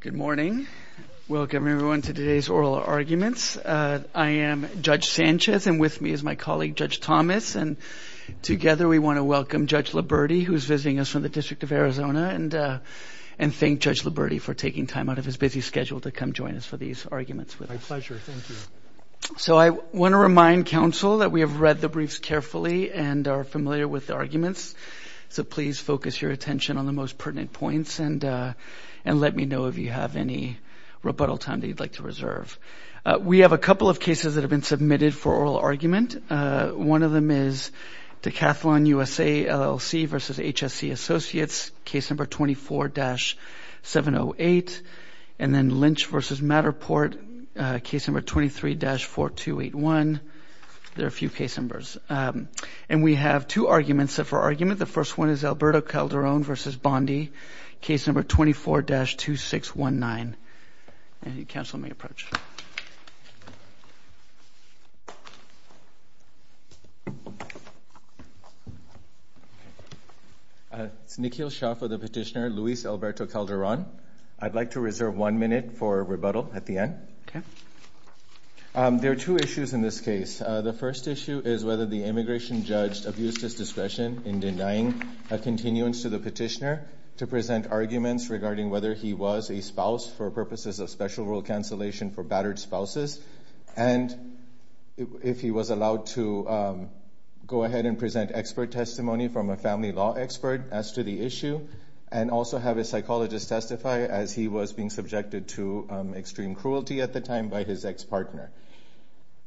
Good morning. Welcome everyone to today's oral arguments. I am Judge Sanchez and with me is my colleague Judge Thomas and together we want to welcome Judge Liberti who's visiting us from the District of Arizona and and thank Judge Liberti for taking time out of his busy schedule to come join us for these arguments. So I want to remind counsel that we have read the briefs carefully and are familiar with the arguments so please focus your attention on the most know if you have any rebuttal time that you'd like to reserve. We have a couple of cases that have been submitted for oral argument. One of them is Decathlon USA LLC versus HSC Associates case number 24-708 and then Lynch versus Matterport case number 23-4281. There are a few case numbers and we have two arguments for argument. The first one is Alberto Calderon versus Bondi case number 24-2619. And you counsel may approach. It's Nikhil Shah for the petitioner Luis Alberto Calderon. I'd like to reserve one minute for rebuttal at the end. There are two issues in this case. The first issue is whether the immigration judge abused his discretion in denying a continuance to the petitioner to present arguments regarding whether he was a spouse for purposes of special rule cancellation for battered spouses and if he was allowed to go ahead and present expert testimony from a family law expert as to the issue and also have a psychologist testify as he was being subjected to extreme cruelty at the time by his ex-partner.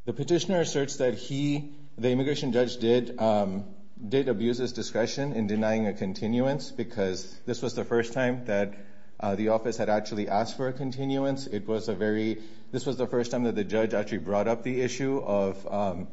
The petitioner asserts that he, the immigration judge, did abuse his discretion in denying a continuance because this was the first time that the office had actually asked for a continuance. It was a very, this was the first time that the judge actually brought up the issue of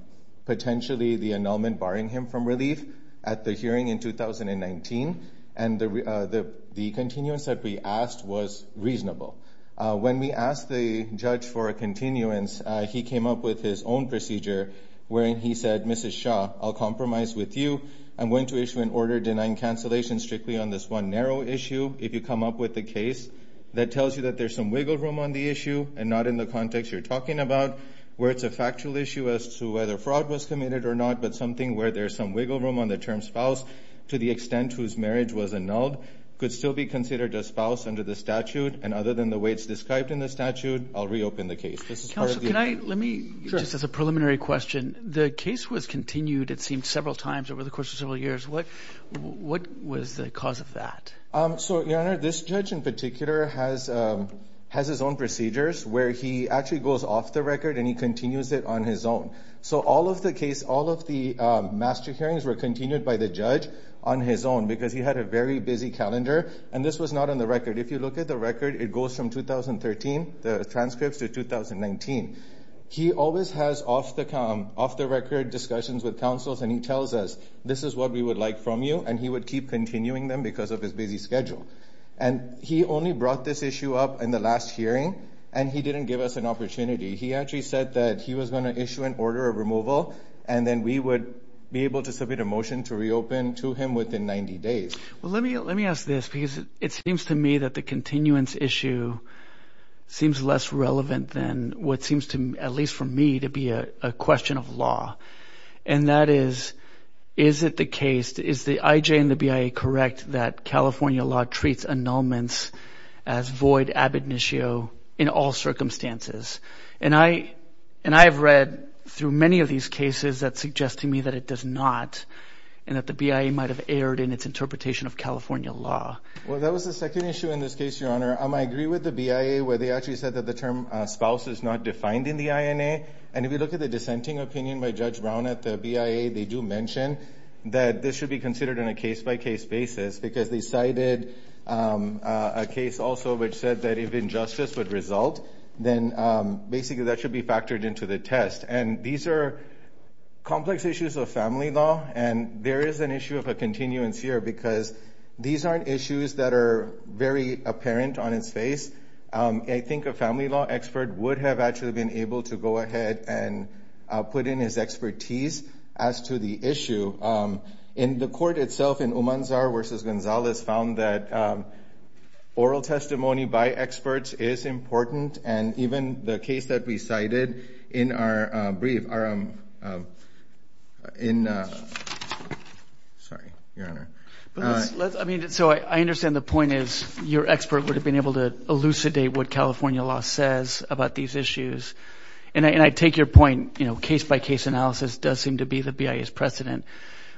potentially the annulment barring him from relief at the hearing in 2019 and the continuance that we asked was reasonable. When we asked the judge for a continuance, he came up with his own procedure wherein he said, Mrs. Shah, I'll compromise with you. I'm going to issue an order denying cancellation strictly on this one narrow issue. If you come up with the case that tells you that there's some wiggle room on the issue and not in the context you're talking about where it's a factual issue as to whether fraud was committed or not but something where there's some wiggle room on the term spouse to the extent whose marriage was annulled could still be considered a spouse under the statute and other than the way it's described in the statute I'll reopen the case. Let me, just as a preliminary question, the case was continued it seemed several times over the course of several years. What what was the cause of that? So your honor, this judge in particular has has his own procedures where he actually goes off the record and he continues it on his own. So all of the case, all of the master hearings were continued by the judge on his own because he had a very busy calendar and this was not on the record. If you look at the record it goes from 2013 the transcripts to 2019. He always has off-the-count, off-the-record discussions with counsels and he tells us this is what we would like from you and he would keep continuing them because of his busy schedule and he only brought this issue up in the last hearing and he didn't give us an opportunity. He actually said that he was going to issue an order of removal and then we would be able to submit a motion to reopen to him within 90 days. Well let me let me ask this because it seems to me that the continuance issue seems less relevant than what seems to at least for me to be a question of law and that is, is it the case, is the IJ and the BIA correct that California law treats annulments as void ab initio in all circumstances? And I and I have read through many of these cases that suggest to me that it does not and that the BIA might have erred in its interpretation of California law. Well that was the second issue in this case your honor. I agree with the BIA where they actually said that the term spouse is not defined in the INA and if you look at the dissenting opinion by Judge Brown at the BIA they do mention that this should be considered in a case-by-case basis because they cited a case also which said that if injustice would result then basically that should be factored into the test. And these are complex issues of family law and there is an issue of a continuance here because these aren't issues that are very apparent on its face. I think a family law expert would have actually been able to go ahead and put in his expertise as to the issue. In the court itself in Umanzar versus Gonzalez found that oral testimony by experts is important and even the case that we cited in our brief our in sorry your honor. I mean so I understand the point is your expert would have been able to elucidate what California law says about these issues and I take your point you know case-by-case analysis does seem to be the BIA's precedent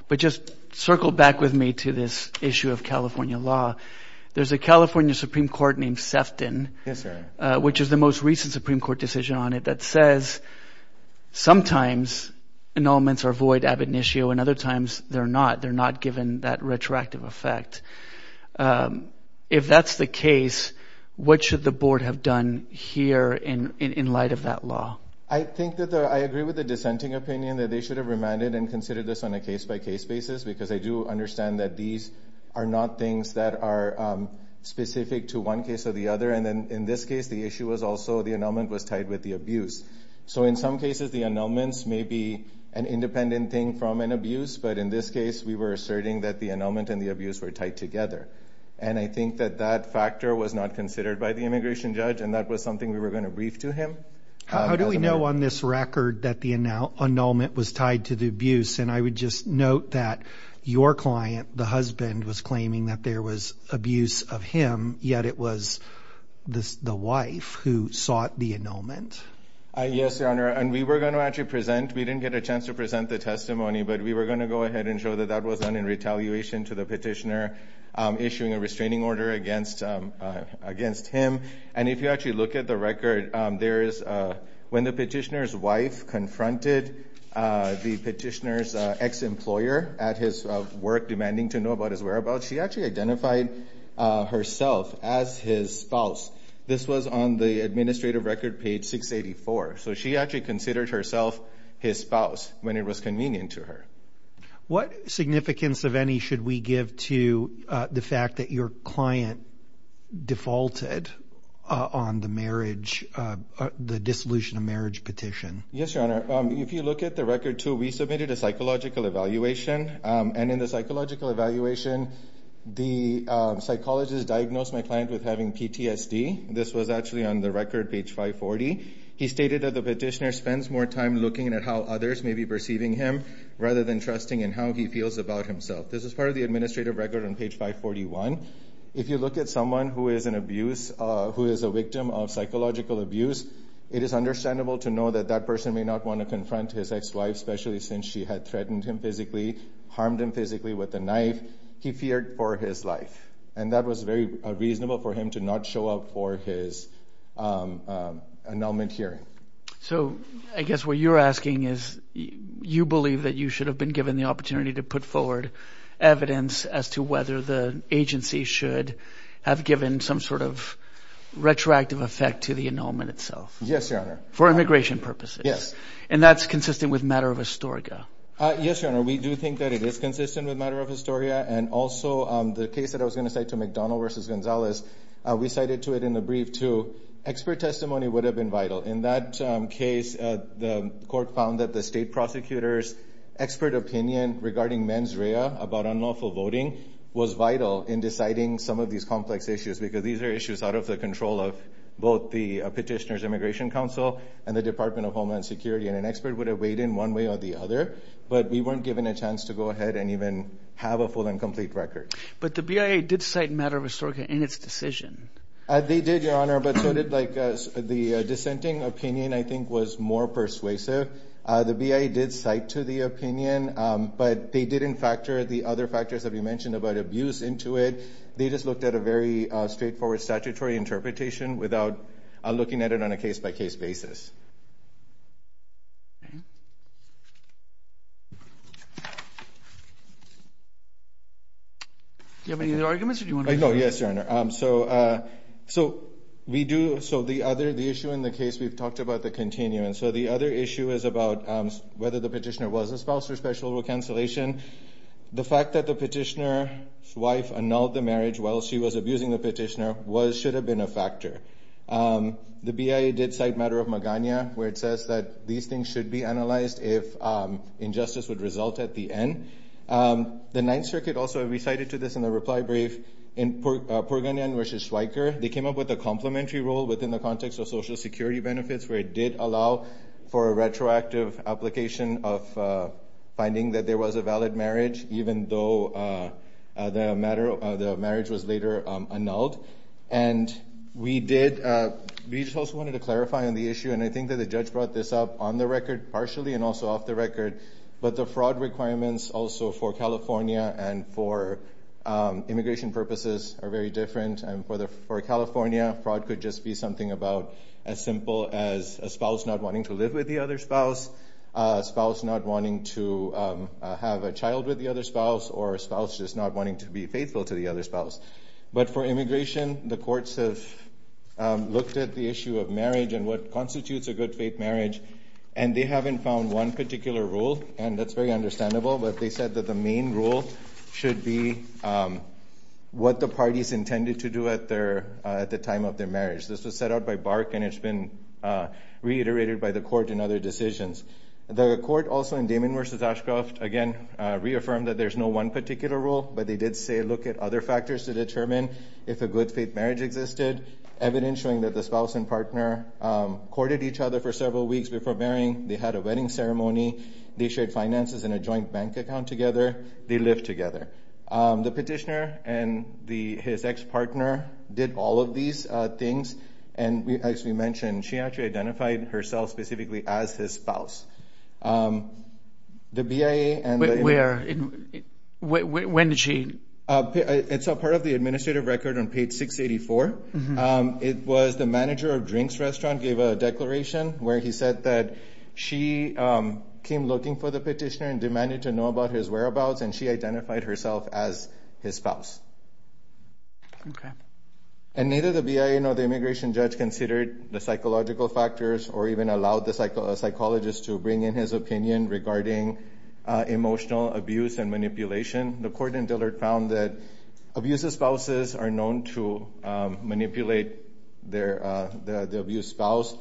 but just circle back with me to this issue of California law. There's a California Supreme Court named Sefton. Yes sir. Which is the most recent Supreme Court decision on it that says sometimes annulments are void ab initio and other times they're not they're not given that retroactive effect. If that's the case what should the board have done here in in light of that law? I think that I agree with the dissenting opinion that they should have remanded and considered this on a case-by-case basis because I do understand that these are not things that are specific to one case or the other and then in this case the issue was also the annulment was tied with the abuse. So in some cases the annulments may be an independent thing from an abuse but in this case we were asserting that the annulment and the abuse were tied together and I think that that factor was not considered by the immigration judge and that was something we were going to brief to him. How do we know on this record that the annulment was tied to the abuse and I would just note that your client the husband was claiming that there was abuse of him yet it was this the wife who sought the annulment. Yes your honor and we were going to actually present we didn't get a chance to present the testimony but we were going to go ahead and show that that was done in retaliation to the petitioner issuing a restraining order against against him and if you actually look at the record there is when the petitioner's wife confronted the petitioner's ex-employer at his work demanding to know about his whereabouts she actually identified herself as his spouse this was on the administrative record page 684 so she actually considered herself his spouse when it was convenient to her. What significance of any should we give to the fact that your client defaulted on the marriage the dissolution of marriage petition? Yes your honor if you look at the record too we submitted a psychological evaluation and in the psychological evaluation the psychologist diagnosed my client with having PTSD this was actually on the record page 540 he stated that the petitioner spends more time looking at how others may be perceiving him rather than trusting in how he feels about himself. This is part of the administrative record on page 541 if you look at someone who is an abuse who is a victim of psychological abuse it is understandable to know that that person may not want to confront his ex especially since she had threatened him physically harmed him physically with a knife he feared for his life and that was very reasonable for him to not show up for his annulment hearing. So I guess what you're asking is you believe that you should have been given the opportunity to put forward evidence as to whether the agency should have given some sort of retroactive effect to the annulment itself? Yes your honor. For immigration purposes? Yes. And that's consistent with matter of historia? Yes your honor we do think that it is consistent with matter of historia and also the case that I was going to say to McDonald versus Gonzalez we cited to it in the brief to expert testimony would have been vital in that case the court found that the state prosecutors expert opinion regarding mens rea about unlawful voting was vital in deciding some of these complex issues because these are issues out of the control of both the petitioners immigration council and the Department of Homeland Security and an expert would have weighed in one way or the other but we weren't given a chance to go ahead and even have a full and complete record. But the BIA did cite matter of historia in its decision? They did your honor but so did like the dissenting opinion I think was more persuasive the BIA did cite to the opinion but they didn't factor the other factors that we mentioned about abuse into it they just looked at a very straightforward statutory interpretation without looking at it on a case-by-case basis. Do you have any other arguments? Yes your honor so we do so the other the issue in the case we've talked about the continuance so the other issue is about whether the petitioner was a spouse for special rule cancellation the fact that the petitioner's wife annulled the marriage while she was abusing the petitioner was should have been a factor. The BIA did cite matter of Magana where it says that these things should be analyzed if injustice would result at the end. The Ninth Circuit also recited to this in the reply brief in Purganyan versus Schweiker they came up with a complementary role within the context of social security benefits where it did allow for a retroactive application of finding that there was a valid marriage even though the matter of the marriage was later annulled and we did we just also wanted to clarify on the issue and I think that the judge brought this up on the record partially and also off the record but the fraud requirements also for California and for immigration purposes are very different and for the for California fraud could just be something about as simple as a spouse not wanting to live with the other spouse spouse not wanting to have a child with the other spouse or a spouse just not wanting to be faithful to the other spouse but for immigration the courts have looked at the issue of marriage and what constitutes a good faith marriage and they haven't found one particular rule and that's very understandable but they said that the main rule should be what the parties intended to do at their at the time of their marriage. This was set out by Bark and it's been reiterated by the court in other decisions. The court also in Damon versus Ashcroft again reaffirmed that there's no one particular rule but they did say look at other factors to determine if a good faith marriage existed evidence showing that the spouse and partner courted each other for several weeks before marrying they had a wedding ceremony they shared finances in a joint bank account together they live together. The petitioner and the his ex-partner did all of these things and we actually mentioned she actually identified herself specifically as his spouse. The BIA and where when did she it's a part of the administrative record on page 684 it was the manager of drinks restaurant gave a declaration where he said that she came looking for the petitioner and demanded to know about his whereabouts and she identified herself as his spouse and neither the BIA nor the immigration judge considered the psychological factors or even allowed the psychologist to bring in his opinion regarding emotional abuse and manipulation. The court in Dillard found that abusive spouses are known to manipulate their the abused spouse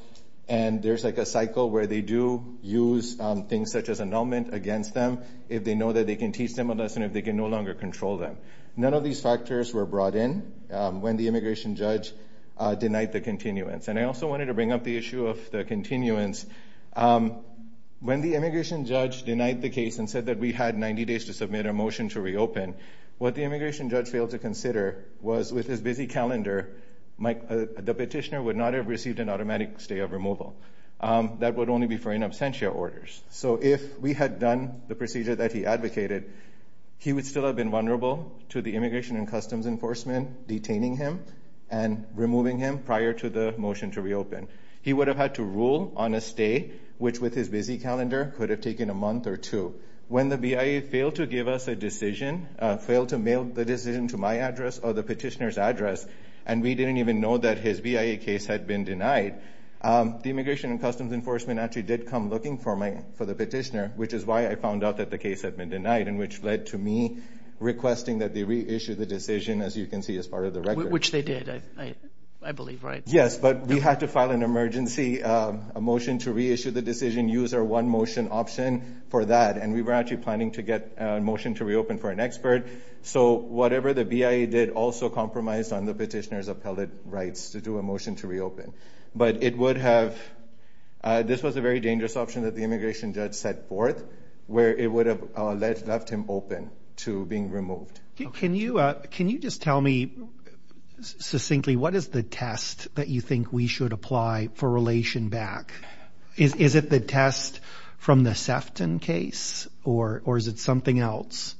and there's like a cycle where they do use things such as annulment against them if they know that they can teach them a lesson if they can no longer control them. None of these factors were brought in when the immigration judge denied the continuance and I also wanted to bring up the issue of the continuance when the immigration judge denied the case and said that we had 90 days to submit a motion to reopen what the immigration judge failed to consider was with his busy calendar Mike the petitioner would not have received an automatic stay of removal that would only be for in absentia orders. So if we had done the procedure that he advocated he would still have been vulnerable to the immigration and customs enforcement detaining him and removing him prior to the motion to reopen. He would have had to rule on a stay which with his busy calendar could have taken a month or two. When the BIA failed to give us a decision failed to mail the decision to my address or the petitioner's address and we didn't even know that his BIA case had been denied the immigration and customs enforcement actually did come looking for my for the petitioner which is why I found out that the case had been denied and which led to me requesting that they reissue the decision as you can see as part of the record. Which they did I believe right? Yes but we had to file an emergency a motion to reissue the decision use our one motion option for that and we were actually planning to get a motion to reopen for an expert so whatever the BIA did also compromised on the petitioner's appellate rights to do a motion to reopen but it would have this was a very dangerous option that the immigration judge set forth where it would have left him open to being removed. Can you can you just tell me succinctly what is the test that you think we should apply for relation back? Is it the test from the Sefton case or is it something else?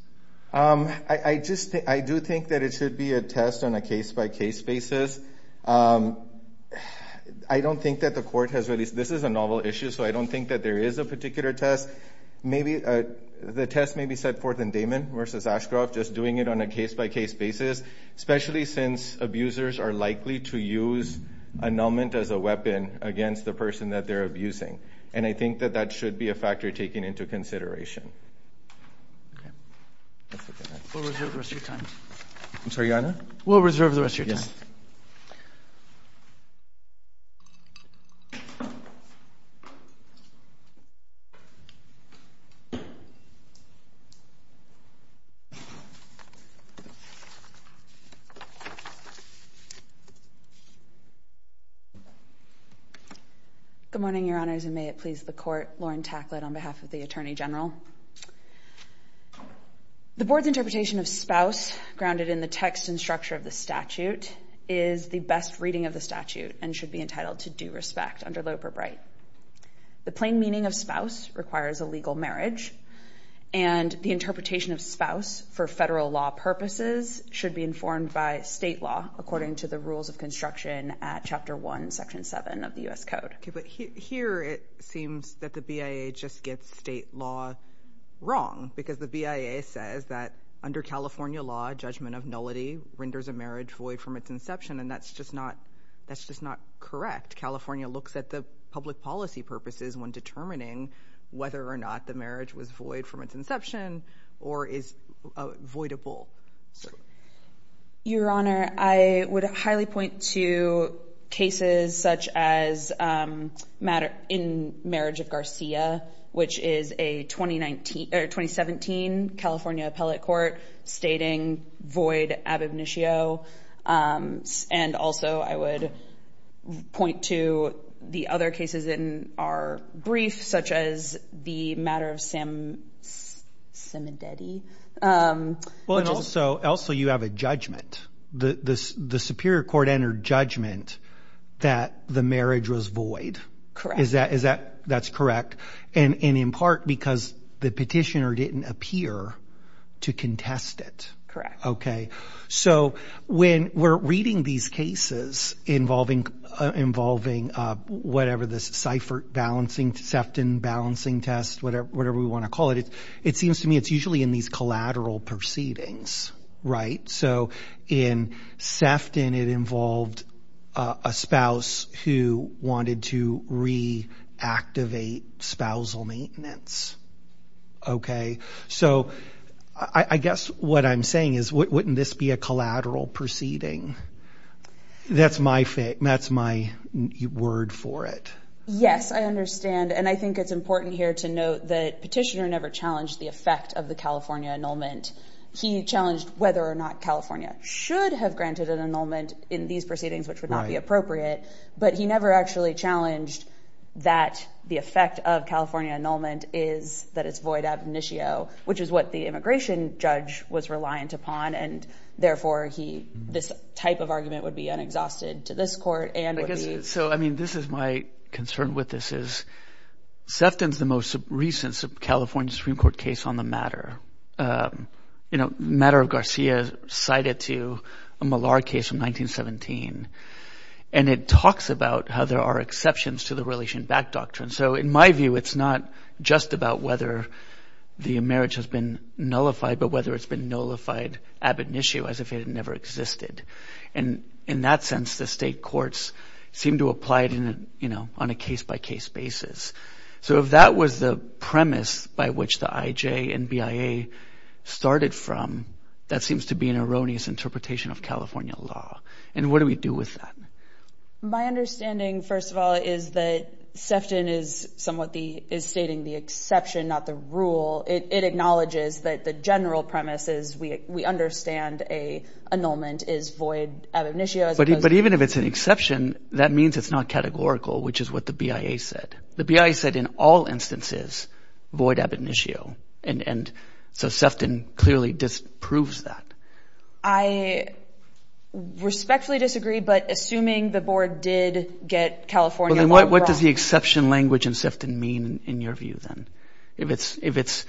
I just I do think that it should be a test on a case-by-case basis. I don't think that the court has released this is a novel issue so I don't think that there is a particular test maybe the test may be set forth in Damon versus Ashcroft just doing it on a case-by-case basis. Especially since abusers are likely to use annulment as a weapon against the person that they're abusing and I think that that should be a factor taken into consideration. We'll reserve the rest of your time. Good morning your honors and may it please the court. Lauren Tacklett on behalf of the Attorney General. The board's interpretation of spouse grounded in the text and structure of the statute is the best reading of the statute and should be entitled to due respect under Loeb or Bright. The plain meaning of spouse requires a legal marriage and the interpretation of spouse for federal law purposes should be informed by state law according to the rules of construction at chapter 1 section 7 of the US Code. Okay but here it seems that the BIA just gets state law wrong because the BIA says that under California law judgment of nullity renders a marriage void from its inception and that's just not that's just not correct. California looks at the public policy purposes when determining whether or not the marriage was void from its inception or is avoidable. Your which is a 2019 or 2017 California Appellate Court stating void ab initio and also I would point to the other cases in our brief such as the matter of Sam Simandetti. Well and also you have a judgment. The Superior Court entered judgment that the marriage was void. Correct. Is that is that that's correct and in part because the petitioner didn't appear to contest it. Correct. Okay so when we're reading these cases involving involving whatever this Seifert balancing Sefton balancing test whatever whatever we want to call it it it seems to me it's usually in these collateral proceedings right so in Sefton it involved a spouse who wanted to re-activate spousal maintenance. Okay so I guess what I'm saying is wouldn't this be a collateral proceeding? That's my word for it. Yes I understand and I think it's important here to note that petitioner never challenged the effect of the California annulment. He challenged whether or not California should have granted an annulment in these proceedings which would not be appropriate but he never actually challenged that the effect of California annulment is that it's void ab initio which is what the immigration judge was reliant upon and therefore he this type of argument would be unexhausted to this court. So I mean this is my concern with this is Sefton's the most recent California Supreme Court case on the matter you know matter of Garcia cited to a Malar case from 1917 and it talks about how there are exceptions to the relation back doctrine so in my view it's not just about whether the marriage has been nullified but whether it's been nullified ab initio as if it had never existed and in that sense the state courts seem to apply it in you know on a case-by-case basis. So if that was the premise by which the IJ and BIA started from that seems to be an erroneous interpretation of California law and what do we do with that? My understanding first of all is that Sefton is somewhat the is stating the exception not the rule it acknowledges that the general premise is we we understand a annulment is void ab initio. But even if it's an exception that means it's not categorical which is what the BIA said. The BIA said in all instances void ab initio and and so Sefton clearly disproves that. I respectfully disagree but assuming the board did get California law wrong. What does the exception language and Sefton mean in your view then? If it's if it's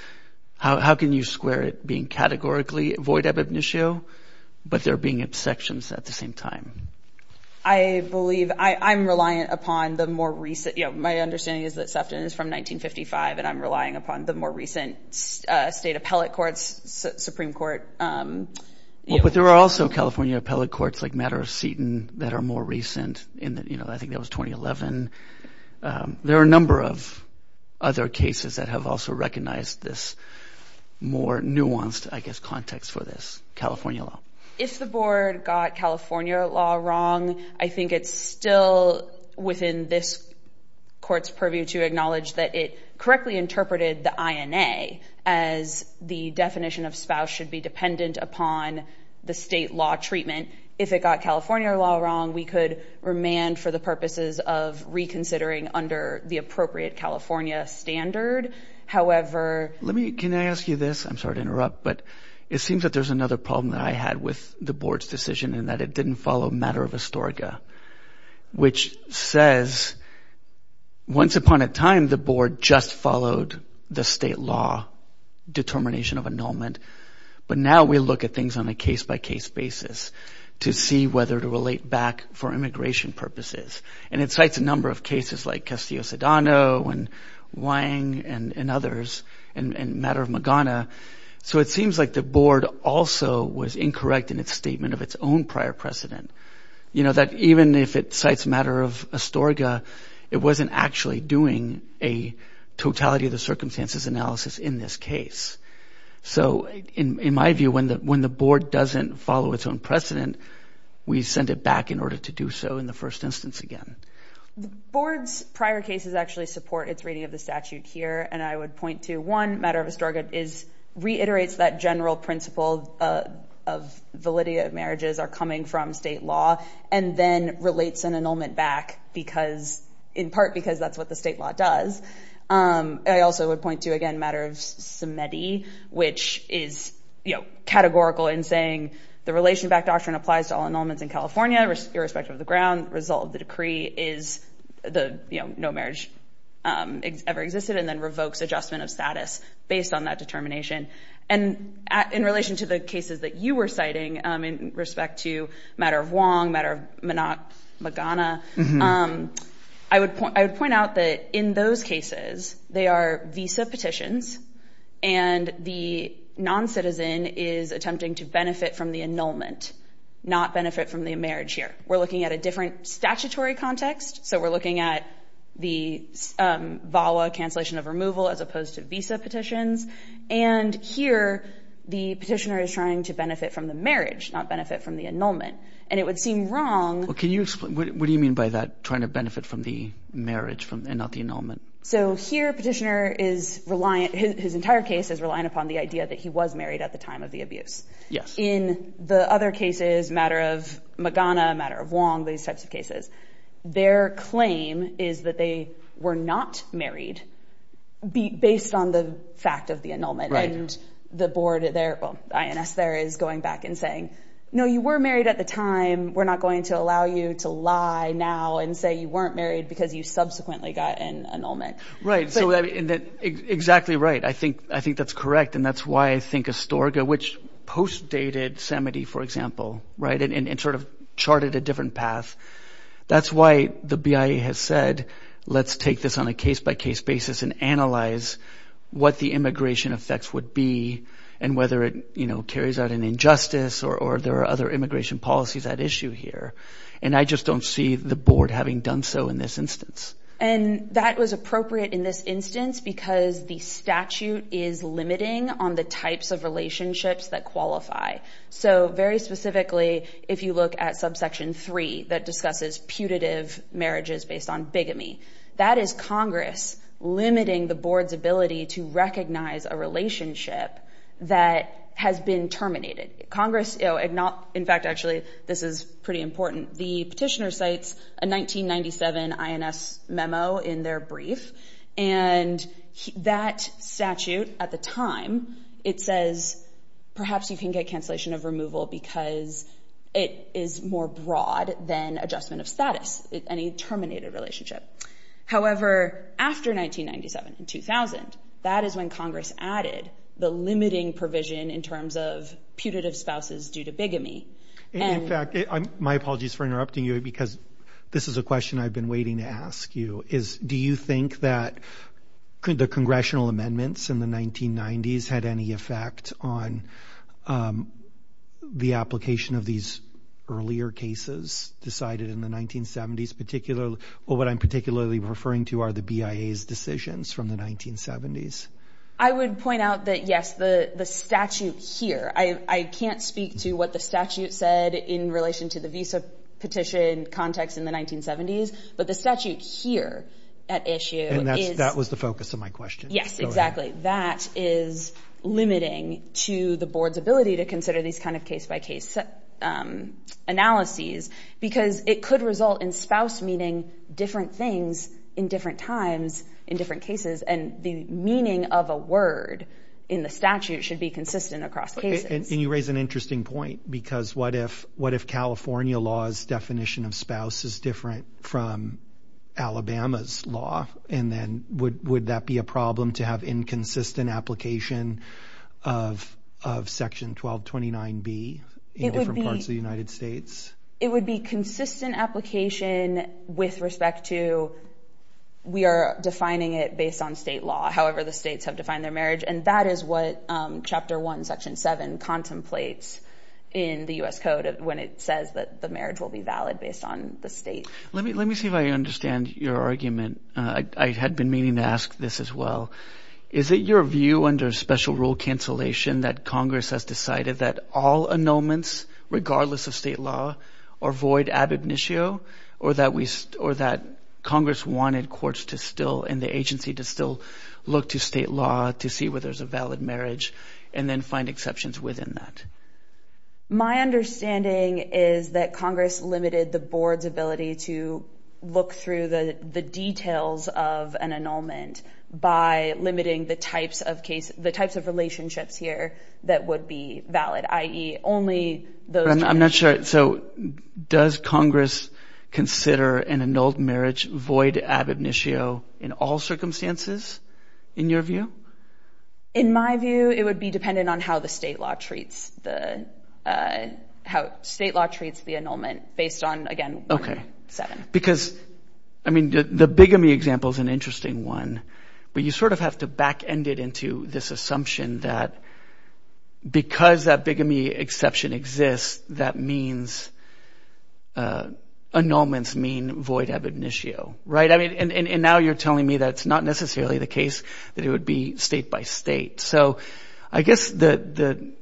how can you square it being categorically void ab initio but there being exceptions at the same time? I believe I I'm reliant upon the more recent you know my understanding is that Sefton is from 1955 and I'm relying upon the more recent state appellate courts Supreme Court. But there are also California appellate courts like matter of Seton that are more recent in that you know I think that was 2011. There are a number of other cases that have also recognized this more nuanced I guess context for this California law. If the board got California law wrong I think it's still within this court's purview to acknowledge that it correctly interpreted the INA as the definition of spouse should be dependent upon the state law treatment. If it got California law wrong we could remand for the purposes of reconsidering under the appropriate California standard. However let me can I ask you this I'm sorry to interrupt but it seems that there's another problem that I had with the board's decision and that it didn't follow matter of Astorga which says once upon a time the board just followed the state law determination of annulment but now we look at things on a case-by-case basis to see whether to relate back for immigration purposes and it cites a number of cases like Castillo-Sedano and Wang and and others and matter of Magana so it seems like the board also was incorrect in its statement of its own prior precedent. You know that even if it cites matter of Astorga it wasn't actually doing a totality of the circumstances analysis in this case. So in my view when that when the board doesn't follow its own precedent we send it back in order to do so in the first instance again. The board's prior cases actually support its reading of the statute here and I would point to one matter of Astorga is reiterates that the general principle of validity of marriages are coming from state law and then relates an annulment back because in part because that's what the state law does. I also would point to again matter of Semedi which is you know categorical in saying the relation back doctrine applies to all annulments in California irrespective of the ground result of the decree is the you know no marriage ever existed and then revokes adjustment of status based on that determination and in relation to the cases that you were citing in respect to matter of Wang, matter of Magana, I would point out that in those cases they are visa petitions and the non-citizen is attempting to benefit from the annulment not benefit from the marriage here. We're looking at a different of removal as opposed to visa petitions and here the petitioner is trying to benefit from the marriage not benefit from the annulment and it would seem wrong. What do you mean by that trying to benefit from the marriage and not the annulment? So here petitioner is reliant, his entire case is reliant upon the idea that he was married at the time of the abuse. In the other cases matter of Magana, matter of Wang, these types of cases their claim is that they were not married based on the fact of the annulment and the board there well INS there is going back and saying no you were married at the time we're not going to allow you to lie now and say you weren't married because you subsequently got an annulment. Right so exactly right I think I think that's correct and that's why I think Astorga which post dated Samedi for example right and sort of charted a different path that's why the BIA has said let's take this on a case-by-case basis and analyze what the immigration effects would be and whether it you know carries out an injustice or there are other immigration policies at issue here and I just don't see the board having done so in this instance. And that was appropriate in this instance because the statute is limiting on the types of relationships that qualify so very specifically if you look at subsection 3 that discusses putative marriages based on bigamy that is Congress limiting the board's ability to recognize a relationship that has been terminated. Congress you know it not in fact actually this is pretty important the petitioner cites a 1997 INS memo in their brief and that statute at the time it says perhaps you can get cancellation of removal because it is more broad than adjustment of status any terminated relationship. However after 1997 and 2000 that is when Congress added the limiting provision in terms of putative spouses due to bigamy. And in fact my apologies for interrupting you because this is a question I've been waiting to ask you is do you think that could the congressional amendments in the 1990s had any effect on the application of these earlier cases decided in the 1970s particularly or what I'm particularly referring to are the BIA's decisions from the 1970s? I would point out that yes the the statute here I can't speak to what the statute said in relation to the visa petition context in the 1970s but the statute here at issue. And that was the focus of my question. Yes exactly that is limiting to the board's ability to consider these kind of case-by-case analyses because it could result in spouse meaning different things in different times in different cases and the meaning of a word in the statute should be consistent across cases. And you raise an interesting point because what if what if California laws definition of spouse is different from Alabama's law and then would would that be a problem to have inconsistent application of section 1229B in different parts of the United States? It would be consistent application with respect to we are defining it based on state law however the states have defined their marriage and that is what chapter 1 section 7 contemplates in the US Code when it says that the marriage will be based on the state. Let me let me see if I understand your argument. I had been meaning to ask this as well. Is it your view under special rule cancellation that Congress has decided that all annulments regardless of state law or void ab initio or that we or that Congress wanted courts to still in the agency to still look to state law to see where there's a valid marriage and then find exceptions within that? My understanding is that Congress limited the board's ability to look through the the details of an annulment by limiting the types of case the types of relationships here that would be valid i.e. only those. I'm not sure so does Congress consider an annulled marriage void ab initio in all circumstances in your view? In my view it would be dependent on how the state law treats the how state law treats the annulment based on again 7. Because I mean the bigamy example is an interesting one but you sort of have to back end it into this assumption that because that bigamy exception exists that means annulments mean void ab initio right I mean and and now you're telling me that it's not necessarily the case that it would be state-by-state so I guess that the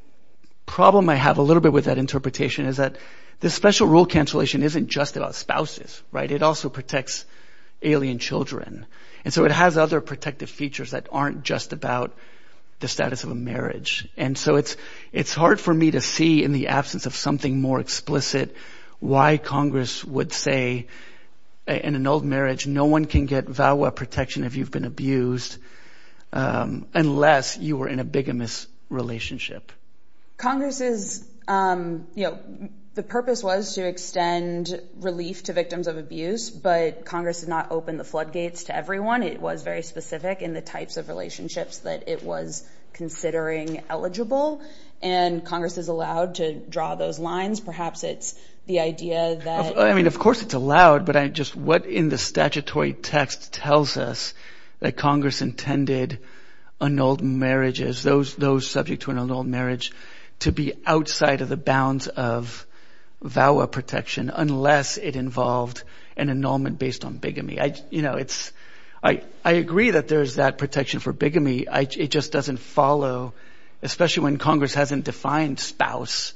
problem I have a little bit with that interpretation is that the special rule cancellation isn't just about spouses right it also protects alien children and so it has other protective features that aren't just about the status of a marriage and so it's it's hard for me to see in the absence of something more explicit why Congress would say in an annulled marriage no one can get VAWA protection if you've been abused unless you were in a bigamous relationship. Congress is you know the purpose was to extend relief to victims of abuse but Congress has not opened the floodgates to everyone it was very specific in the types of relationships that it was considering eligible and Congress is allowed to draw those lines perhaps it's the idea that I of course it's allowed but I just what in the statutory text tells us that Congress intended annulled marriages those those subject to an annulled marriage to be outside of the bounds of VAWA protection unless it involved an annulment based on bigamy I you know it's I I agree that there's that protection for bigamy I it just doesn't follow especially when Congress hasn't defined spouse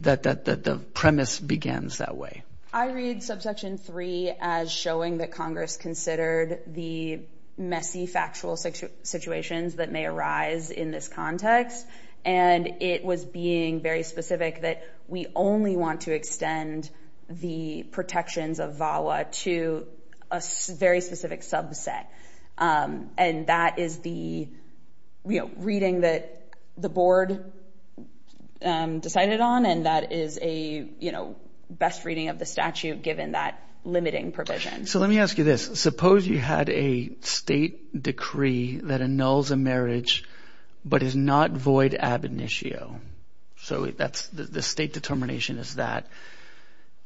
that the premise begins that way. I read subsection 3 as showing that Congress considered the messy factual situations that may arise in this context and it was being very specific that we only want to extend the protections of VAWA to a very specific subset and that is the you know reading that the board decided on and that is a you know best reading of the statute given that limiting provision. So let me ask you this suppose you had a state decree that annuls a marriage but is not void ab initio so that's the state determination is that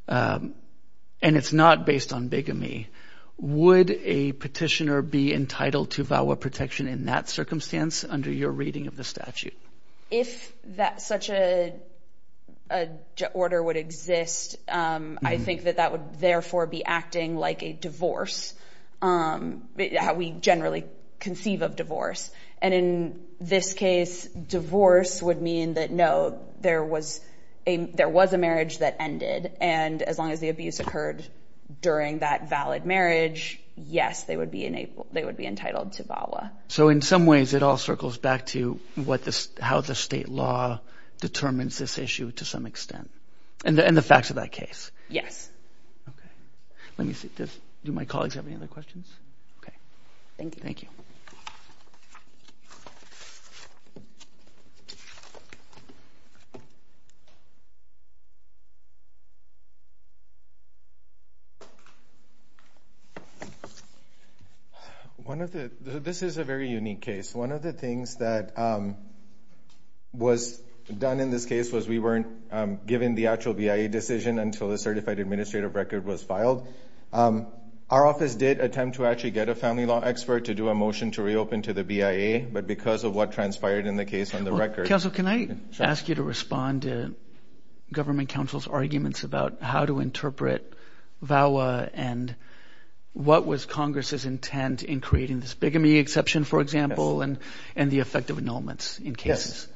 and it's not based on bigamy would a petitioner be entitled to VAWA protection in that circumstance under your reading of the statute? If that such a order would exist I think that that would therefore be acting like a divorce how we generally conceive of divorce and in this case divorce would mean that no there was a there was a marriage that ended and as long as the abuse occurred during that valid marriage yes they would be enabled they entitled to VAWA. So in some ways it all circles back to what this how the state law determines this issue to some extent and the facts of that case? Yes. Let me see this do my colleagues have any other questions? Okay thank you. One of the this is a very unique case one of the things that was done in this case was we weren't given the actual BIA decision until the certified administrative record was filed. Our office did attempt to actually get a family law expert to do a motion to reopen to the BIA but because of what transpired in the case on the record. Counsel can I ask you to respond to government counsel's arguments about how to interpret VAWA and what was Congress's intent in creating this bigamy exception for example and and the effect of annulments in cases?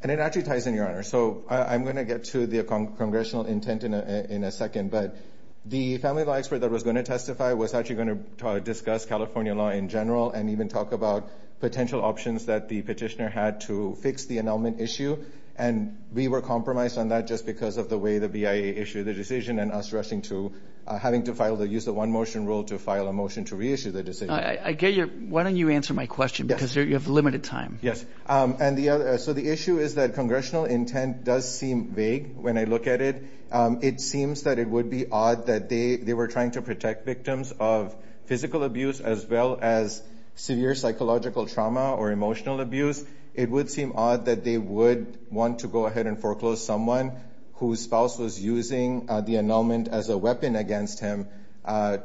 And it actually ties in your honor so I'm gonna get to the congressional intent in a second but the family law expert that was going to testify was actually going to discuss California law in general and even talk about potential options that the petitioner had to fix the annulment issue and we were compromised on that just because of the way the BIA issued the decision and us rushing to having to file the use of one motion rule to file a motion to reissue the decision. I get your why don't you answer my question because you have limited time. Yes and the other so the issue is that congressional intent does seem vague when I look at it it seems that it would be odd that they they were trying to protect victims of physical abuse as well as severe psychological trauma or emotional abuse it would seem odd that they would want to go ahead and foreclose someone whose spouse was using the annulment as a weapon against him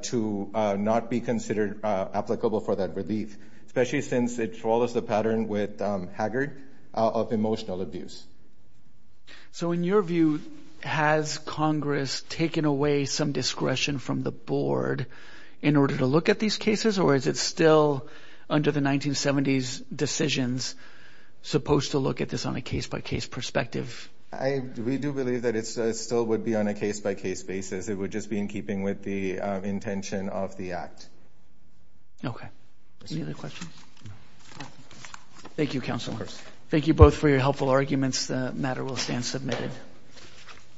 to not be considered applicable for that relief especially since it follows the pattern with Haggard of emotional abuse. So in your view has Congress taken away some discretion from the board in order to look at these cases or is it still under the 1970s decisions supposed to look at this on a case-by-case perspective? We do believe that it still would be on a case-by-case basis it would just be in keeping with the intention of the act. Okay any other questions? Thank you counsel. Thank you both for your helpful arguments the matter will stand submitted.